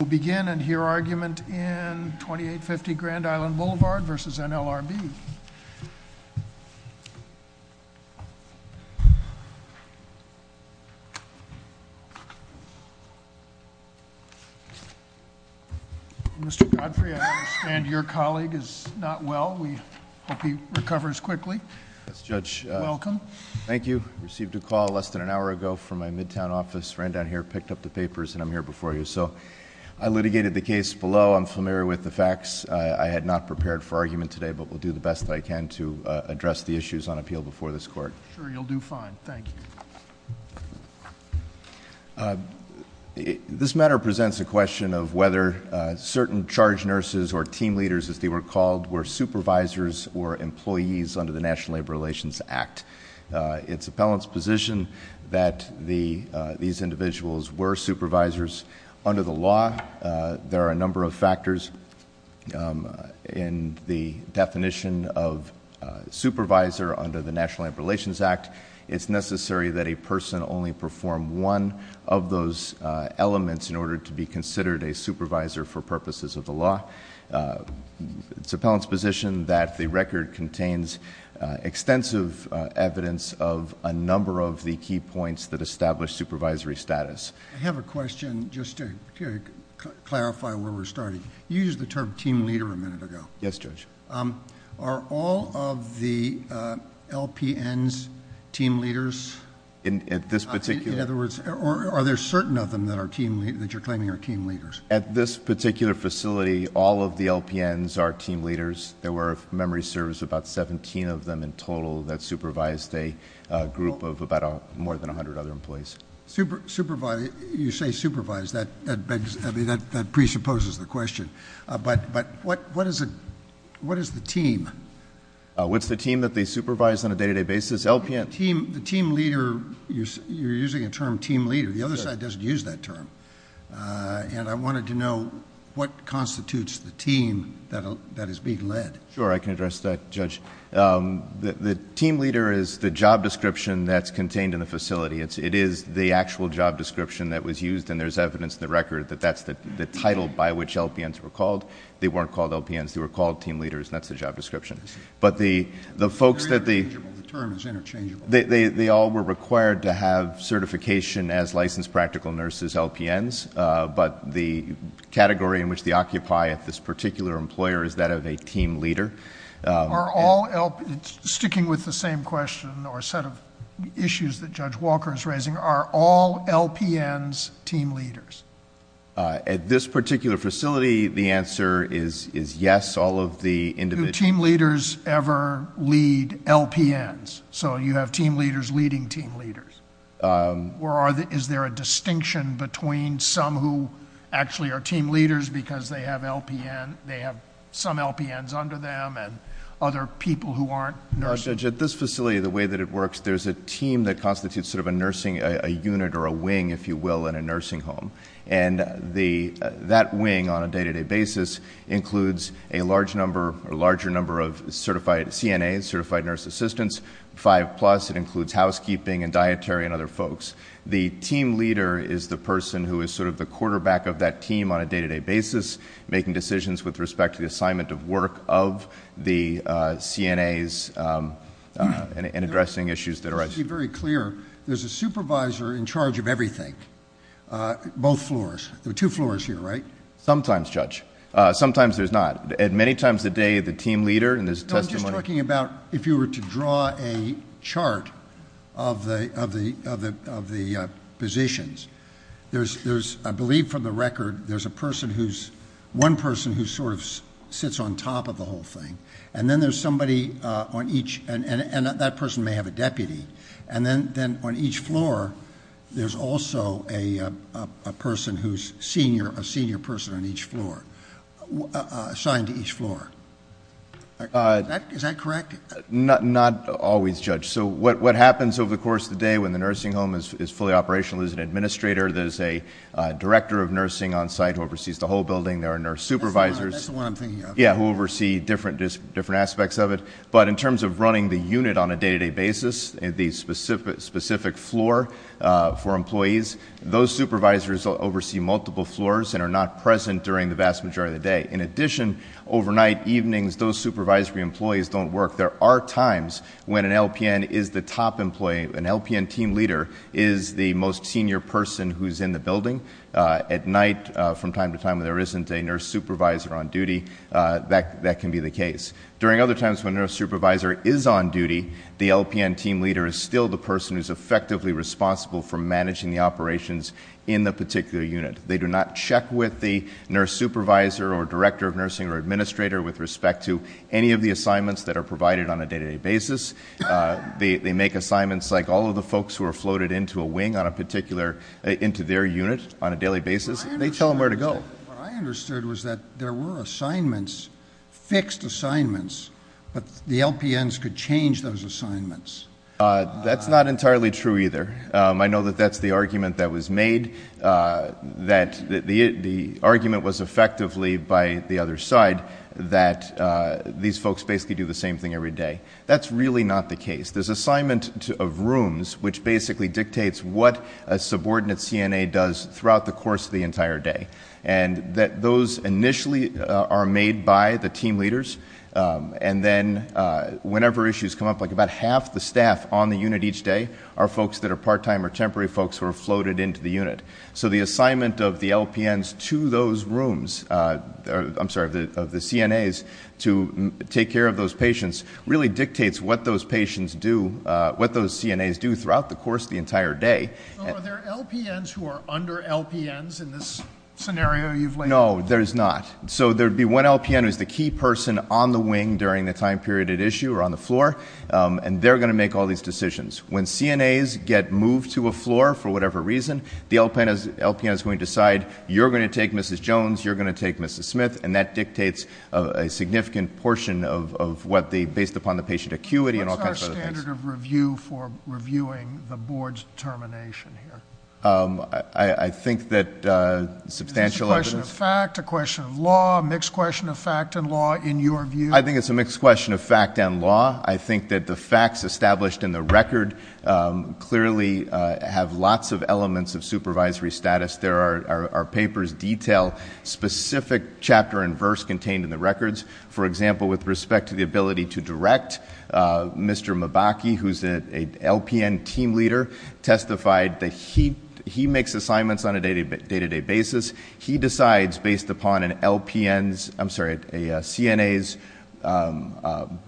We'll begin and hear argument in 2850 Grand Island Boulevard versus NLRB. Mr. Godfrey, I understand your colleague is not well. We hope he recovers quickly. Welcome. Thank you. Received a call less than an hour ago from my midtown office, ran down here, picked up the papers, and I'm here before you. So, I litigated the case below. I'm familiar with the facts. I had not prepared for argument today, but will do the best that I can to address the issues on appeal before this court. Sure, you'll do fine. Thank you. This matter presents a question of whether certain charge nurses or team leaders, as they were called, were supervisors or employees under the National Labor Relations Act. It's appellant's position that these individuals were supervisors. Under the law, there are a number of factors in the definition of supervisor under the National Labor Relations Act. It's necessary that a person only perform one of those elements in order to be considered a supervisor for purposes of the law. It's appellant's position that the record contains extensive evidence of a number of the key points that establish supervisory status. I have a question, just to clarify where we're starting. You used the term team leader a minute ago. Yes, Judge. Are all of the LPNs team leaders? In other words, are there certain of them that you're claiming are team leaders? At this particular facility, all of the LPNs are team leaders. There were, if memory serves, about 17 of them in total that supervised a group of about more than 100 other employees. You say supervised, that presupposes the question, but what is the team? What's the team that they supervise on a day-to-day basis? LPN? The team leader, you're using a term team leader. The other side doesn't use that term. And I wanted to know what constitutes the team that is being led. Sure, I can address that, Judge. The team leader is the job description that's contained in the facility. It is the actual job description that was used, and there's evidence in the record that that's the title by which LPNs were called. They weren't called LPNs, they were called team leaders, and that's the job description. But the folks that the- They're interchangeable, the term is interchangeable. They all were required to have certification as licensed practical nurses, LPNs. But the category in which they occupy at this particular employer is that of a team leader. Are all LPNs, sticking with the same question or set of issues that Judge Walker is raising, are all LPNs team leaders? At this particular facility, the answer is yes. All of the individuals- Do team leaders ever lead LPNs? So you have team leaders leading team leaders. Or is there a distinction between some who actually are team leaders, because they have some LPNs under them, and other people who aren't nurses? Judge, at this facility, the way that it works, there's a team that constitutes sort of a nursing unit or a wing, if you will, in a nursing home. And that wing, on a day-to-day basis, includes a large number, a larger number of certified CNAs, certified nurse assistants, five plus, it includes housekeeping and dietary and other folks. The team leader is the person who is sort of the quarterback of that team on a day-to-day basis, making decisions with respect to the assignment of work of the CNAs, and addressing issues that arise. Let's be very clear, there's a supervisor in charge of everything, both floors. There are two floors here, right? Sometimes, Judge. Sometimes there's not. At many times a day, the team leader, and there's testimony- I'm just talking about, if you were to draw a chart of the positions. There's, I believe from the record, there's a person who's, one person who sort of sits on top of the whole thing. And then there's somebody on each, and that person may have a deputy. And then on each floor, there's also a person who's a senior person on each floor. Assigned to each floor. Is that correct? Not always, Judge. So what happens over the course of the day when the nursing home is fully operational is an administrator. There's a director of nursing on site who oversees the whole building. There are nurse supervisors- That's the one I'm thinking of. Yeah, who oversee different aspects of it. But in terms of running the unit on a day-to-day basis, the specific floor for the vast majority of the day, in addition, overnight evenings, those supervisory employees don't work. There are times when an LPN is the top employee. An LPN team leader is the most senior person who's in the building. At night, from time to time when there isn't a nurse supervisor on duty, that can be the case. During other times when a nurse supervisor is on duty, the LPN team leader is still the person who's effectively responsible for managing the operations in the particular unit. They do not check with the nurse supervisor or director of nursing or administrator with respect to any of the assignments that are provided on a day-to-day basis. They make assignments like all of the folks who are floated into a wing on a particular, into their unit on a daily basis. They tell them where to go. What I understood was that there were assignments, fixed assignments, but the LPNs could change those assignments. That's not entirely true either. I know that that's the argument that was made, that the argument was effectively by the other side. That these folks basically do the same thing every day. That's really not the case. There's assignment of rooms, which basically dictates what a subordinate CNA does throughout the course of the entire day. And that those initially are made by the team leaders, and then whenever issues come up, like about half the staff on the unit each day are folks that are part-time or temporary folks who are floated into the unit. So the assignment of the LPNs to those rooms, I'm sorry, of the CNAs to take care of those patients really dictates what those patients do, what those CNAs do throughout the course of the entire day. So are there LPNs who are under LPNs in this scenario you've laid out? No, there's not. So there'd be one LPN who's the key person on the wing during the time period at issue or on the floor, and they're going to make all these decisions. When CNAs get moved to a floor for whatever reason, the LPN is going to decide, you're going to take Mrs. Jones, you're going to take Mrs. Smith, and that dictates a significant portion of what the, based upon the patient acuity and all kinds of other things. What's our standard of review for reviewing the board's determination here? I think that substantial evidence- Fact or question of law, mixed question of fact and law in your view. I think it's a mixed question of fact and law. I think that the facts established in the record clearly have lots of elements of supervisory status. There are papers detail specific chapter and verse contained in the records. For example, with respect to the ability to direct, Mr. Mabaki, who's a LPN team leader, testified that he makes assignments on a day-to-day basis. He decides based upon an LPN's, I'm sorry, a CNA's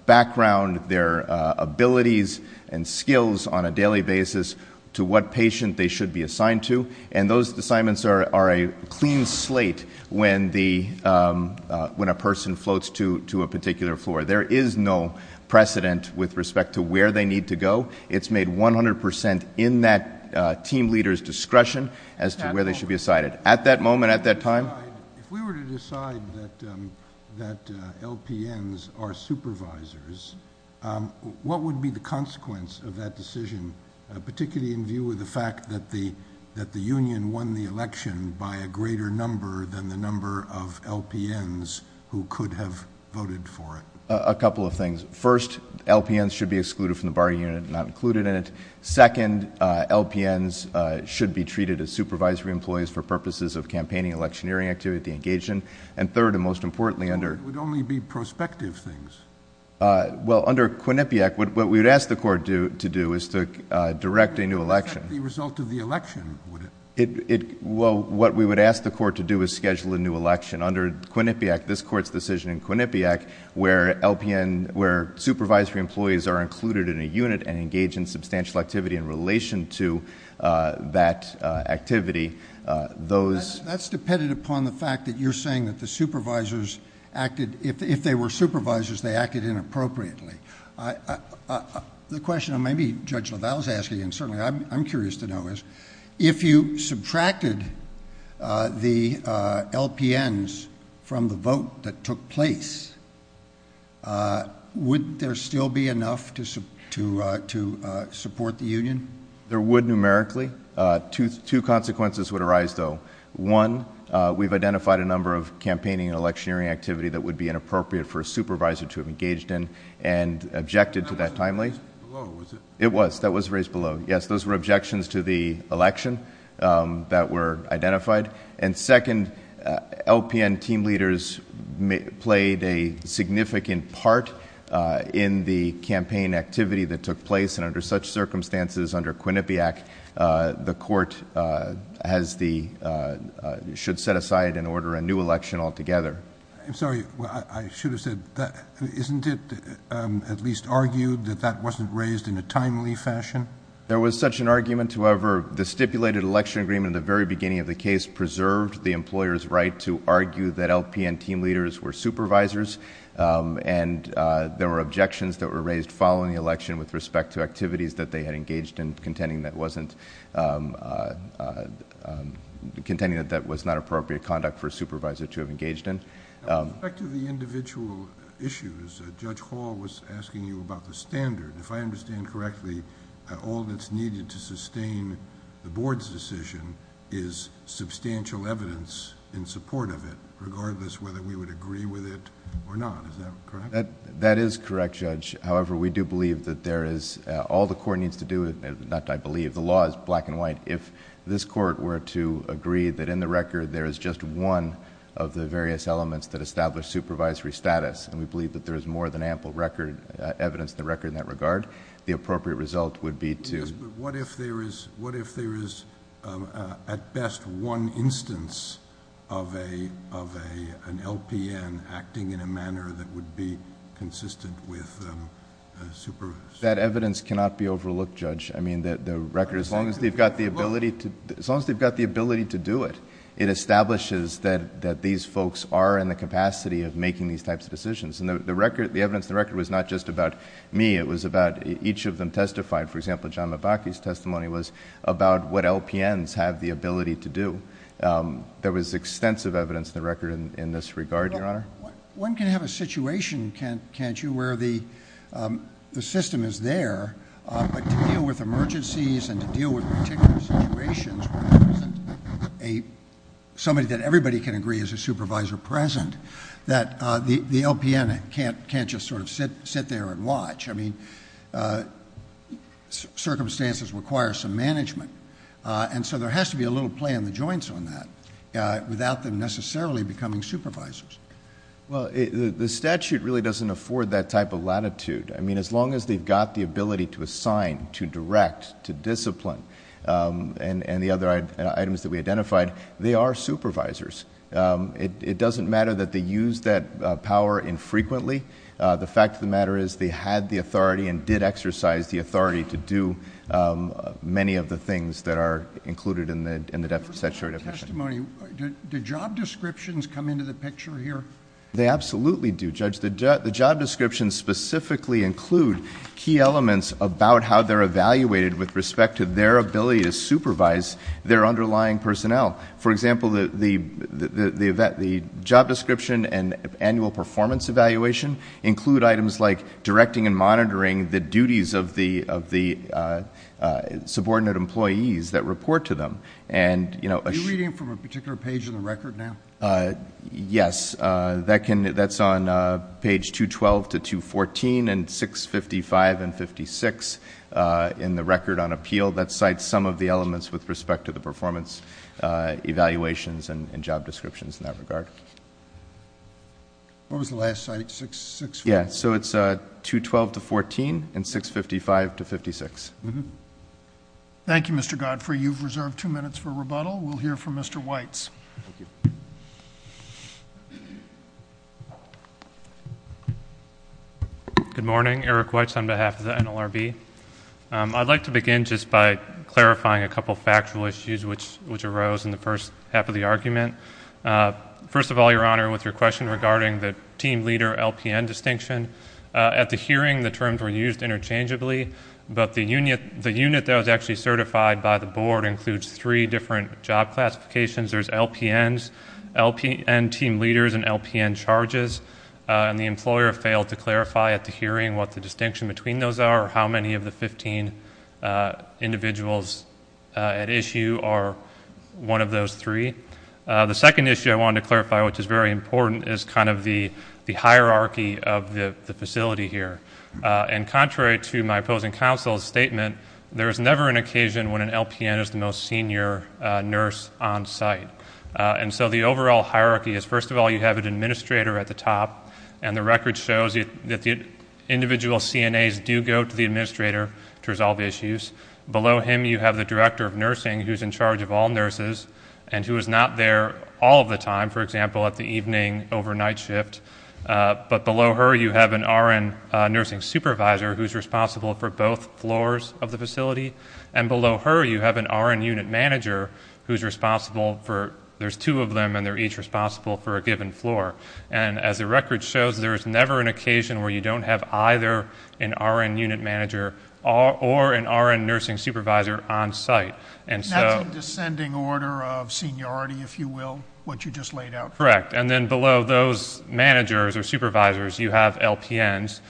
background, their abilities and skills on a daily basis to what patient they should be assigned to. And those assignments are a clean slate when a person floats to a particular floor. There is no precedent with respect to where they need to go. It's made 100% in that team leader's discretion as to where they should be assigned. At that moment, at that time? If we were to decide that LPNs are supervisors, what would be the consequence of that decision, particularly in view of the fact that the union won the election by a greater number than the number of LPNs who could have voted for it? A couple of things. First, LPNs should be excluded from the bar unit, not included in it. Second, LPNs should be treated as supervisory employees for purposes of campaigning, electioneering activity, engagement. And third, and most importantly under- But it would only be prospective things. Well, under Quinnipiac, what we would ask the court to do is to direct a new election. Is that the result of the election? Well, what we would ask the court to do is schedule a new election. Under Quinnipiac, this court's decision in Quinnipiac, where LPN, where supervisory employees are included in a unit and engage in substantial activity in relation to that activity, those- That's dependent upon the fact that you're saying that the supervisors acted, if they were supervisors, they acted inappropriately. The question maybe Judge LaValle's asking, and certainly I'm curious to know is, if you subtracted the LPNs from the vote that took place, would there still be enough to support the union? There would numerically. Two consequences would arise, though. One, we've identified a number of campaigning and electioneering activity that would be inappropriate for a supervisor to have engaged in and objected to that timely. That wasn't raised below, was it? It was, that was raised below. Yes, those were objections to the election that were identified. And second, LPN team leaders played a significant part in the campaign activity that took place, and under such circumstances, under Quinnipiac, the court should set aside and order a new election altogether. I'm sorry, I should have said, isn't it at least argued that that wasn't raised in a timely fashion? There was such an argument, however, the stipulated election agreement at the very beginning of the case preserved the employer's right to argue that LPN team leaders were supervisors. And there were objections that were raised following the election with respect to activities that they had engaged in, contending that wasn't, contending that that was not appropriate conduct for a supervisor to have engaged in. With respect to the individual issues, Judge Hall was asking you about the standard. If I understand correctly, all that's needed to sustain the board's decision is substantial evidence in support of it, regardless whether we would agree with it or not. Is that correct? That is correct, Judge. However, we do believe that there is, all the court needs to do, not I believe, the law is black and white. If this court were to agree that in the record there is just one of the various elements that establish supervisory status, and we believe that there is more than ample evidence in the record in that regard, the appropriate result would be to- Yes, but what if there is at best one instance of an LPN acting in a manner that would be consistent with a supervisor? That evidence cannot be overlooked, Judge. I mean, the record, as long as they've got the ability to do it, it establishes that these folks are in the capacity of making these types of decisions. And the evidence in the record was not just about me, it was about each of them testified. For example, John Mabachy's testimony was about what LPNs have the ability to do. There was extensive evidence in the record in this regard, Your Honor. One can have a situation, can't you, where the system is there, but to deal with emergencies and to deal with particular situations where there isn't somebody that everybody can agree is a supervisor present, that the LPN can't just sort of sit there and watch. I mean, circumstances require some management. And so there has to be a little play on the joints on that without them necessarily becoming supervisors. Well, the statute really doesn't afford that type of latitude. I mean, as long as they've got the ability to assign, to direct, to discipline, and the other items that we identified, they are supervisors. It doesn't matter that they use that power infrequently. The fact of the matter is they had the authority and did exercise the authority to do many of the things that are included in the statute. Testimony, do job descriptions come into the picture here? They absolutely do, Judge. The job descriptions specifically include key elements about how they're evaluated with respect to their ability to supervise their underlying personnel. For example, the job description and annual performance evaluation include items like directing and monitoring the duties of the subordinate employees that report to them, and- Are you reading from a particular page in the record now? Yes, that's on page 212 to 214 and 655 and 56 in the record on appeal. That cites some of the elements with respect to the performance evaluations and job descriptions in that regard. What was the last site, 6- Yeah, so it's 212 to 14 and 655 to 56. Thank you, Mr. Godfrey. You've reserved two minutes for rebuttal. We'll hear from Mr. Weitz. Good morning, Eric Weitz on behalf of the NLRB. I'd like to begin just by clarifying a couple factual issues which arose in the first half of the argument. First of all, your honor, with your question regarding the team leader LPN distinction. At the hearing, the terms were used interchangeably, but the unit that was actually certified by the board includes three different job classifications. There's LPNs, LPN team leaders, and LPN charges. And the employer failed to clarify at the hearing what the distinction between those are or how many of the 15 individuals at issue are one of those three. The second issue I wanted to clarify, which is very important, is kind of the hierarchy of the facility here. And contrary to my opposing counsel's statement, there's never an occasion when an LPN is the most senior nurse on site. And so the overall hierarchy is, first of all, you have an administrator at the top. And the record shows that the individual CNAs do go to the administrator to resolve issues. Below him, you have the director of nursing who's in charge of all nurses and who is not there all of the time. For example, at the evening overnight shift. But below her, you have an RN nursing supervisor who's responsible for both floors of the facility. And below her, you have an RN unit manager who's responsible for, there's two of them and they're each responsible for a given floor. And as the record shows, there's never an occasion where you don't have either an RN unit manager or an RN nursing supervisor on site. And so- That's a descending order of seniority, if you will, what you just laid out. Correct, and then below those managers or supervisors, you have LPNs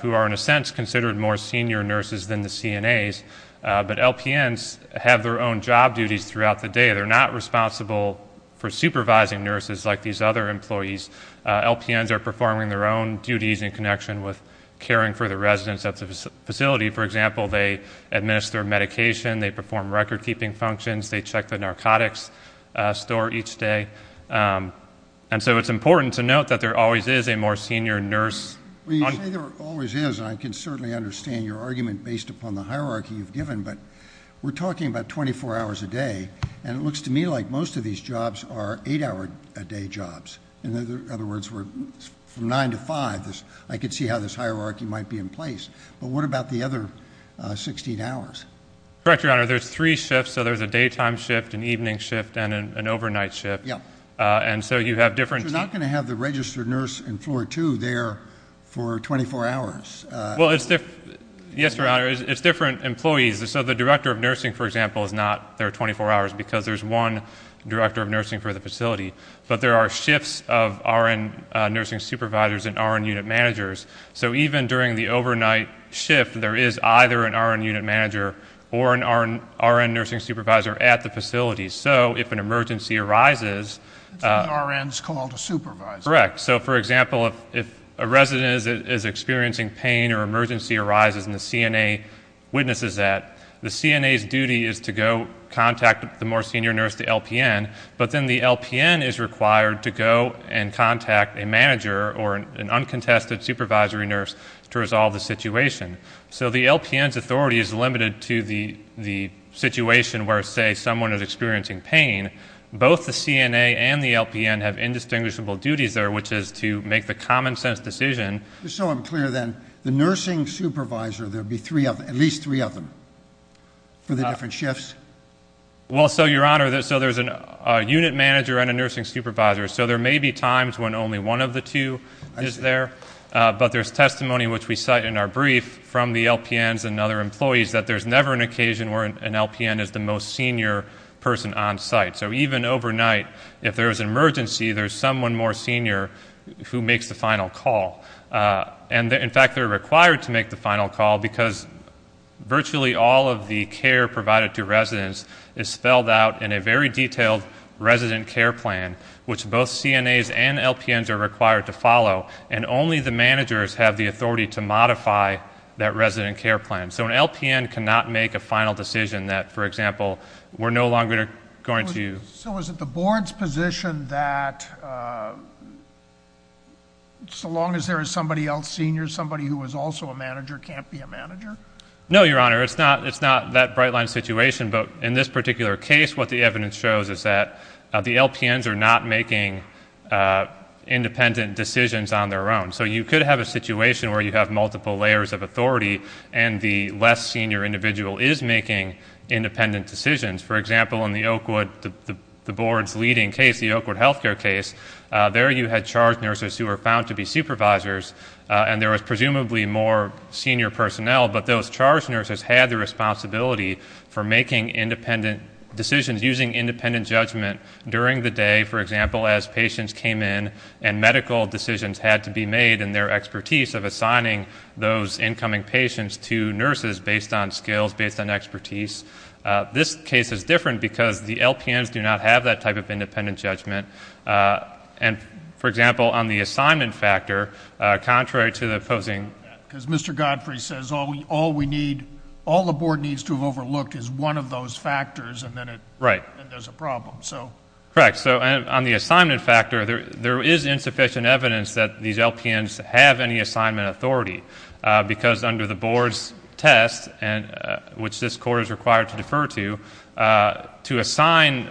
who are in a sense considered more senior nurses than the CNAs. But LPNs have their own job duties throughout the day. They're not responsible for supervising nurses like these other employees. LPNs are performing their own duties in connection with caring for the residents of the facility. For example, they administer medication, they perform record keeping functions, they check the narcotics store each day. And so it's important to note that there always is a more senior nurse. When you say there always is, I can certainly understand your argument based upon the hierarchy you've given. But we're talking about 24 hours a day, and it looks to me like most of these jobs are eight hour a day jobs. In other words, from nine to five, I could see how this hierarchy might be in place. But what about the other 16 hours? Correct, your honor, there's three shifts. So there's a daytime shift, an evening shift, and an overnight shift. Yeah. And so you have different- You're not going to have the registered nurse in floor two there for 24 hours. Well, yes, your honor, it's different employees. So the director of nursing, for example, is not there 24 hours, because there's one director of nursing for the facility. But there are shifts of RN nursing supervisors and RN unit managers. So even during the overnight shift, there is either an RN unit manager or an RN nursing supervisor at the facility. So if an emergency arises- So the RN's called a supervisor. Correct. So for example, if a resident is experiencing pain or emergency arises and the CNA witnesses that, the CNA's duty is to go contact the more senior nurse, the LPN. But then the LPN is required to go and contact a manager or an uncontested supervisory nurse to resolve the situation. So the LPN's authority is limited to the situation where, say, someone is experiencing pain. Both the CNA and the LPN have indistinguishable duties there, which is to make the common sense decision. Just so I'm clear then, the nursing supervisor, there'd be at least three of them for the different shifts? Well, so your honor, so there's a unit manager and a nursing supervisor. So there may be times when only one of the two is there, but there's testimony which we cite in our brief from the LPNs and other employees that there's never an occasion where an LPN is the most senior person on site. So even overnight, if there's an emergency, there's someone more senior who makes the final call. And in fact, they're required to make the final call because virtually all of the care provided to residents is spelled out in a very detailed resident care plan, which both CNAs and LPNs are required to follow, and only the managers have the authority to modify that resident care plan. So an LPN cannot make a final decision that, for example, we're no longer going to- So is it the board's position that so long as there is somebody else senior, somebody who is also a manager can't be a manager? No, your honor, it's not that bright line situation. But in this particular case, what the evidence shows is that the LPNs are not making independent decisions on their own. So you could have a situation where you have multiple layers of authority and the less senior individual is making independent decisions. For example, in the Oakwood, the board's leading case, the Oakwood health care case, there you had charged nurses who were found to be supervisors and there was presumably more senior personnel. But those charged nurses had the responsibility for making independent decisions, using independent judgment during the day, for example, as patients came in. And medical decisions had to be made in their expertise of assigning those incoming patients to nurses based on skills, based on expertise. This case is different because the LPNs do not have that type of independent judgment. And for example, on the assignment factor, contrary to the opposing- Because Mr. Godfrey says all the board needs to have overlooked is one of those factors and then there's a problem, so. Correct, so on the assignment factor, there is insufficient evidence that these LPNs have any assignment authority. Because under the board's test, which this court is required to defer to, to assign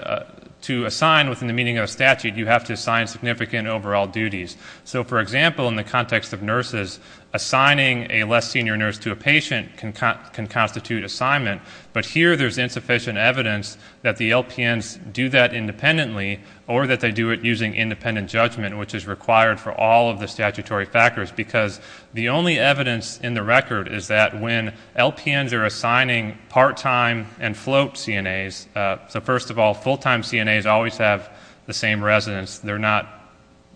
within the meaning of a statute, you have to assign significant overall duties. So for example, in the context of nurses, assigning a less senior nurse to a patient can constitute assignment. But here, there's insufficient evidence that the LPNs do that independently or that they do it using independent judgment, which is required for all of the statutory factors. Because the only evidence in the record is that when LPNs are assigning part-time and float CNAs, so first of all, full-time CNAs always have the same residence. They're not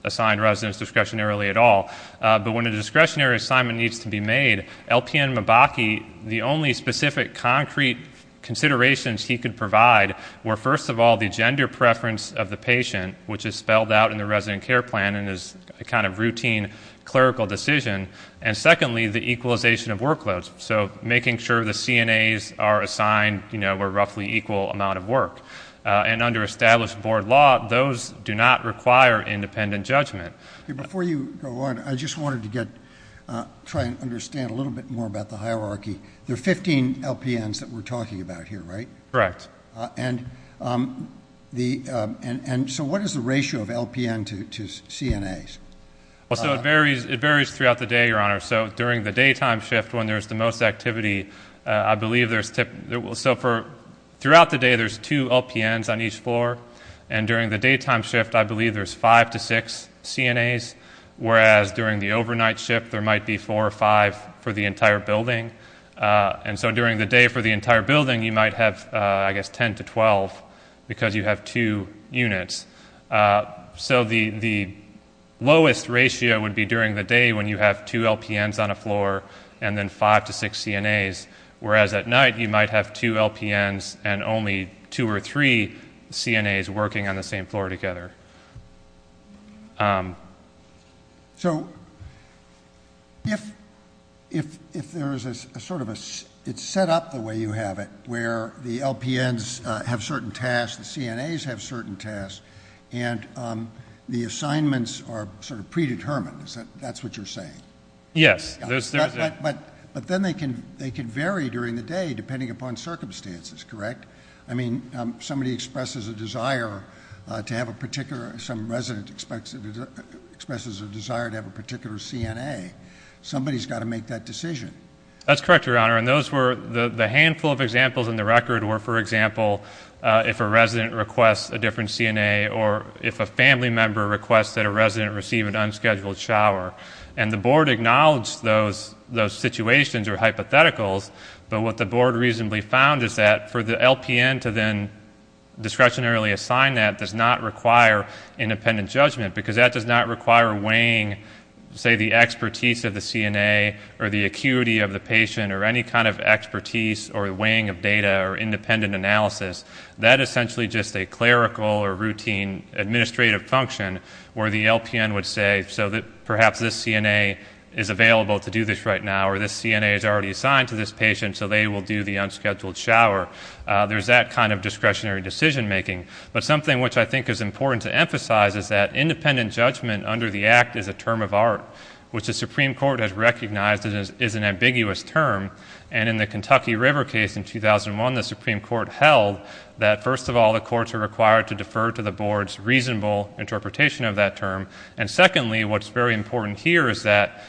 assigned residence discretionarily at all. But when a discretionary assignment needs to be made, LPN Mabachi, the only specific concrete considerations he could provide were first of all, the gender preference of the patient, which is spelled out in the resident care plan and is a kind of routine clerical decision. And secondly, the equalization of workloads, so making sure the CNAs are assigned where roughly equal amount of work. And under established board law, those do not require independent judgment. Before you go on, I just wanted to try and understand a little bit more about the hierarchy. There are 15 LPNs that we're talking about here, right? Correct. And so what is the ratio of LPN to CNAs? So it varies throughout the day, your honor. So during the daytime shift when there's the most activity, I believe there's typically, so throughout the day there's two LPNs on each floor. And during the daytime shift, I believe there's five to six CNAs. Whereas during the overnight shift, there might be four or five for the entire building. And so during the day for the entire building, you might have, I guess, 10 to 12 because you have two units. So the lowest ratio would be during the day when you have two LPNs on a floor and then five to six CNAs. Whereas at night, you might have two LPNs and only two or three CNAs working on the same floor together. So if there's a sort of a, it's set up the way you have it, where the LPNs have certain tasks, the CNAs have certain tasks, and the assignments are sort of predetermined, that's what you're saying? Yes. But then they can vary during the day depending upon circumstances, correct? I mean, somebody expresses a desire to have a particular, some resident expresses a desire to have a particular CNA. Somebody's got to make that decision. That's correct, your honor. And those were the handful of examples in the record were, for example, if a resident requests a different CNA or if a family member requests that a resident receive an unscheduled shower. And the board acknowledged those situations are hypotheticals, but what the board reasonably found is that for the LPN to then discretionarily assign that does not require independent judgment. Because that does not require weighing, say, the expertise of the CNA or the acuity of the patient or any kind of expertise or weighing of data or independent analysis. That essentially just a clerical or routine administrative function where the LPN would say, if so, perhaps this CNA is available to do this right now, or this CNA is already assigned to this patient, so they will do the unscheduled shower. There's that kind of discretionary decision making. But something which I think is important to emphasize is that independent judgment under the act is a term of art, which the Supreme Court has recognized is an ambiguous term. And in the Kentucky River case in 2001, the Supreme Court held that first of all, the courts are required to defer to the board's reasonable interpretation of that term. And secondly, what's very important here is that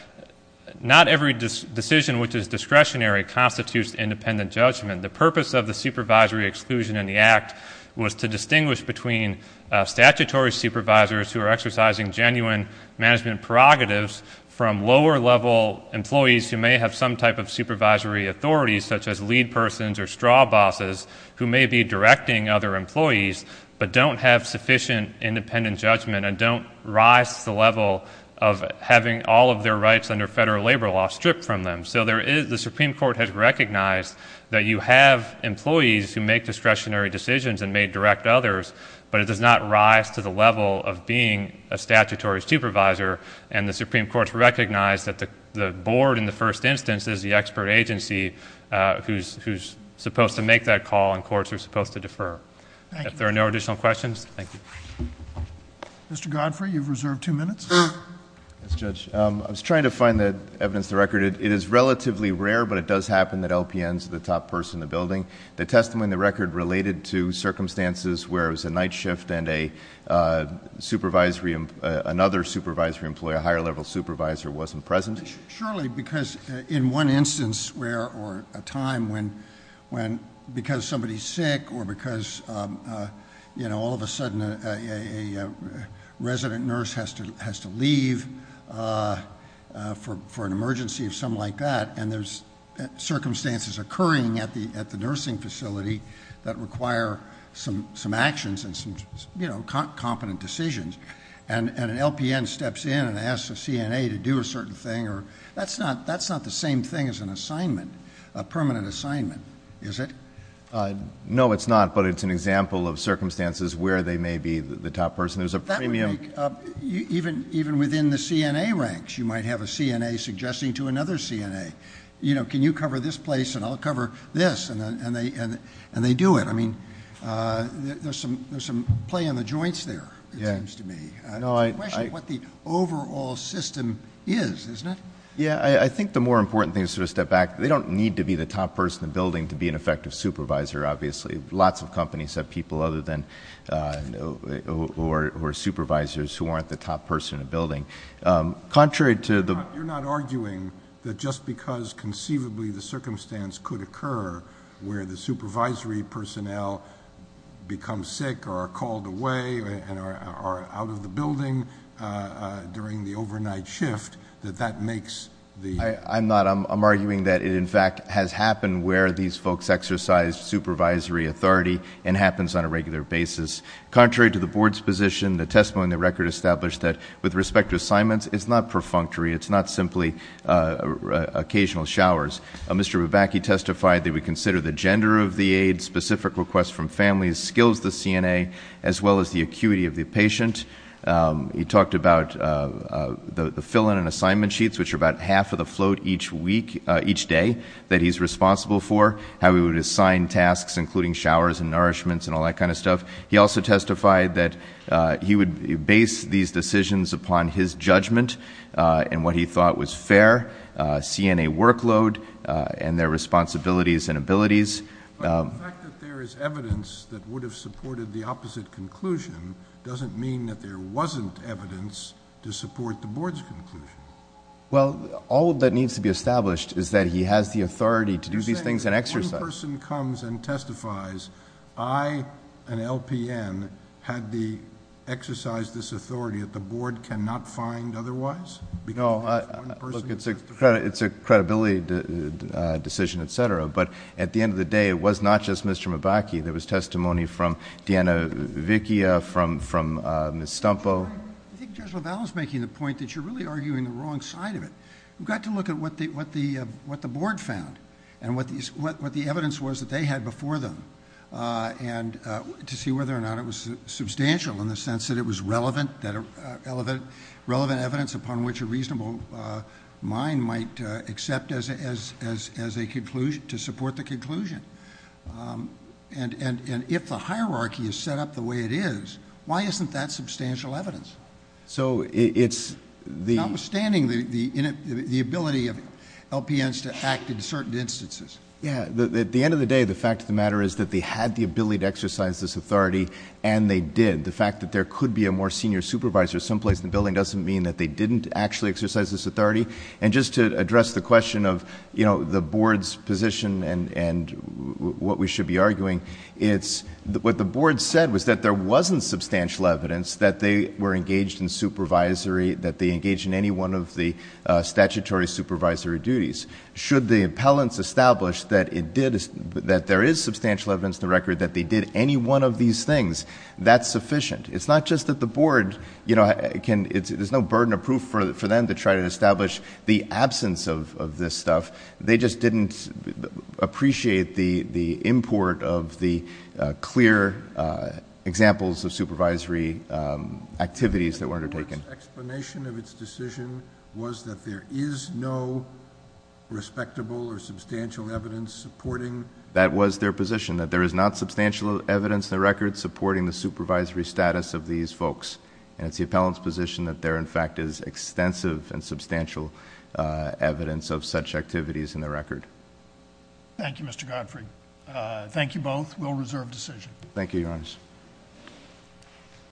not every decision which is discretionary constitutes independent judgment. The purpose of the supervisory exclusion in the act was to distinguish between statutory supervisors who are exercising genuine management prerogatives from lower level employees who may have some type of supervisory authority such as lead persons or straw bosses who may be directing other employees but don't have sufficient independent judgment and don't rise to the level of having all of their rights under federal labor law stripped from them. So the Supreme Court has recognized that you have employees who make discretionary decisions and may direct others, but it does not rise to the level of being a statutory supervisor. And the Supreme Court's recognized that the board in the first instance is the expert agency who's supposed to make that call and courts are supposed to defer. If there are no additional questions, thank you. Mr. Godfrey, you've reserved two minutes. Yes, Judge. I was trying to find the evidence of the record. It is relatively rare, but it does happen that LPNs are the top person in the building. The testimony in the record related to circumstances where it was a night shift and another supervisory employee, a higher level supervisor, wasn't present. Surely, because in one instance where, or a time when, because somebody's sick or because all of a sudden a resident nurse has to leave for an emergency or something like that. And there's circumstances occurring at the nursing facility that require some actions and some competent decisions, and an LPN steps in and that's not the same thing as an assignment, a permanent assignment, is it? No, it's not, but it's an example of circumstances where they may be the top person. There's a premium- That would make, even within the CNA ranks, you might have a CNA suggesting to another CNA. You know, can you cover this place and I'll cover this, and they do it. I mean, there's some play in the joints there, it seems to me. It's a question of what the overall system is, isn't it? Yeah, I think the more important thing is to step back. They don't need to be the top person in the building to be an effective supervisor, obviously. Lots of companies have people other than, or supervisors who aren't the top person in the building. Contrary to the- You're not arguing that just because conceivably the circumstance could occur where the supervisory personnel become sick or are called away and are out of the building during the overnight shift, that that makes the- I'm not, I'm arguing that it in fact has happened where these folks exercise supervisory authority and happens on a regular basis. Contrary to the board's position, the testimony in the record established that with respect to assignments, it's not perfunctory. It's not simply occasional showers. Mr. Babacki testified that we consider the gender of the aid, specific requests from families, skills to CNA, as well as the acuity of the patient. He talked about the fill-in and assignment sheets, which are about half of the float each day that he's responsible for. How he would assign tasks, including showers and nourishments and all that kind of stuff. He also testified that he would base these decisions upon his judgment and what he thought was fair, CNA workload and their responsibilities and abilities. But the fact that there is evidence that would have supported the opposite conclusion doesn't mean that there wasn't evidence to support the board's conclusion. Well, all that needs to be established is that he has the authority to do these things and exercise- You're saying that if one person comes and testifies, I, an LPN, had the exercise this authority that the board cannot find otherwise? No, look, it's a credibility decision, etc. But at the end of the day, it was not just Mr. Mabacki. There was testimony from Deanna Vickia, from Ms. Stumpo. I think Judge LaValle is making the point that you're really arguing the wrong side of it. We've got to look at what the board found and what the evidence was that they had before them. And to see whether or not it was substantial in the sense that it was relevant, that relevant evidence upon which a reasonable mind might accept as a conclusion, to support the conclusion. And if the hierarchy is set up the way it is, why isn't that substantial evidence? So it's the- Notwithstanding the ability of LPNs to act in certain instances. Yeah, at the end of the day, the fact of the matter is that they had the ability to exercise this authority, and they did. The fact that there could be a more senior supervisor someplace in the building doesn't mean that they didn't actually exercise this authority. And just to address the question of the board's position and what we should be arguing, it's what the board said was that there wasn't substantial evidence that they were engaged in supervisory, that they engaged in any one of the statutory supervisory duties. Should the appellants establish that there is substantial evidence in the record that they did any one of these things, that's sufficient. It's not just that the board, there's no burden of proof for them to try to establish the absence of this stuff. They just didn't appreciate the import of the clear examples of supervisory activities that were undertaken. The board's explanation of its decision was that there is no respectable or substantial evidence supporting- That was their position, that there is not substantial evidence in the record supporting the supervisory status of these folks. And it's the appellant's position that there, in fact, is extensive and substantial evidence of such activities in the record. Thank you, Mr. Godfrey. Thank you both. Thank you, your honors.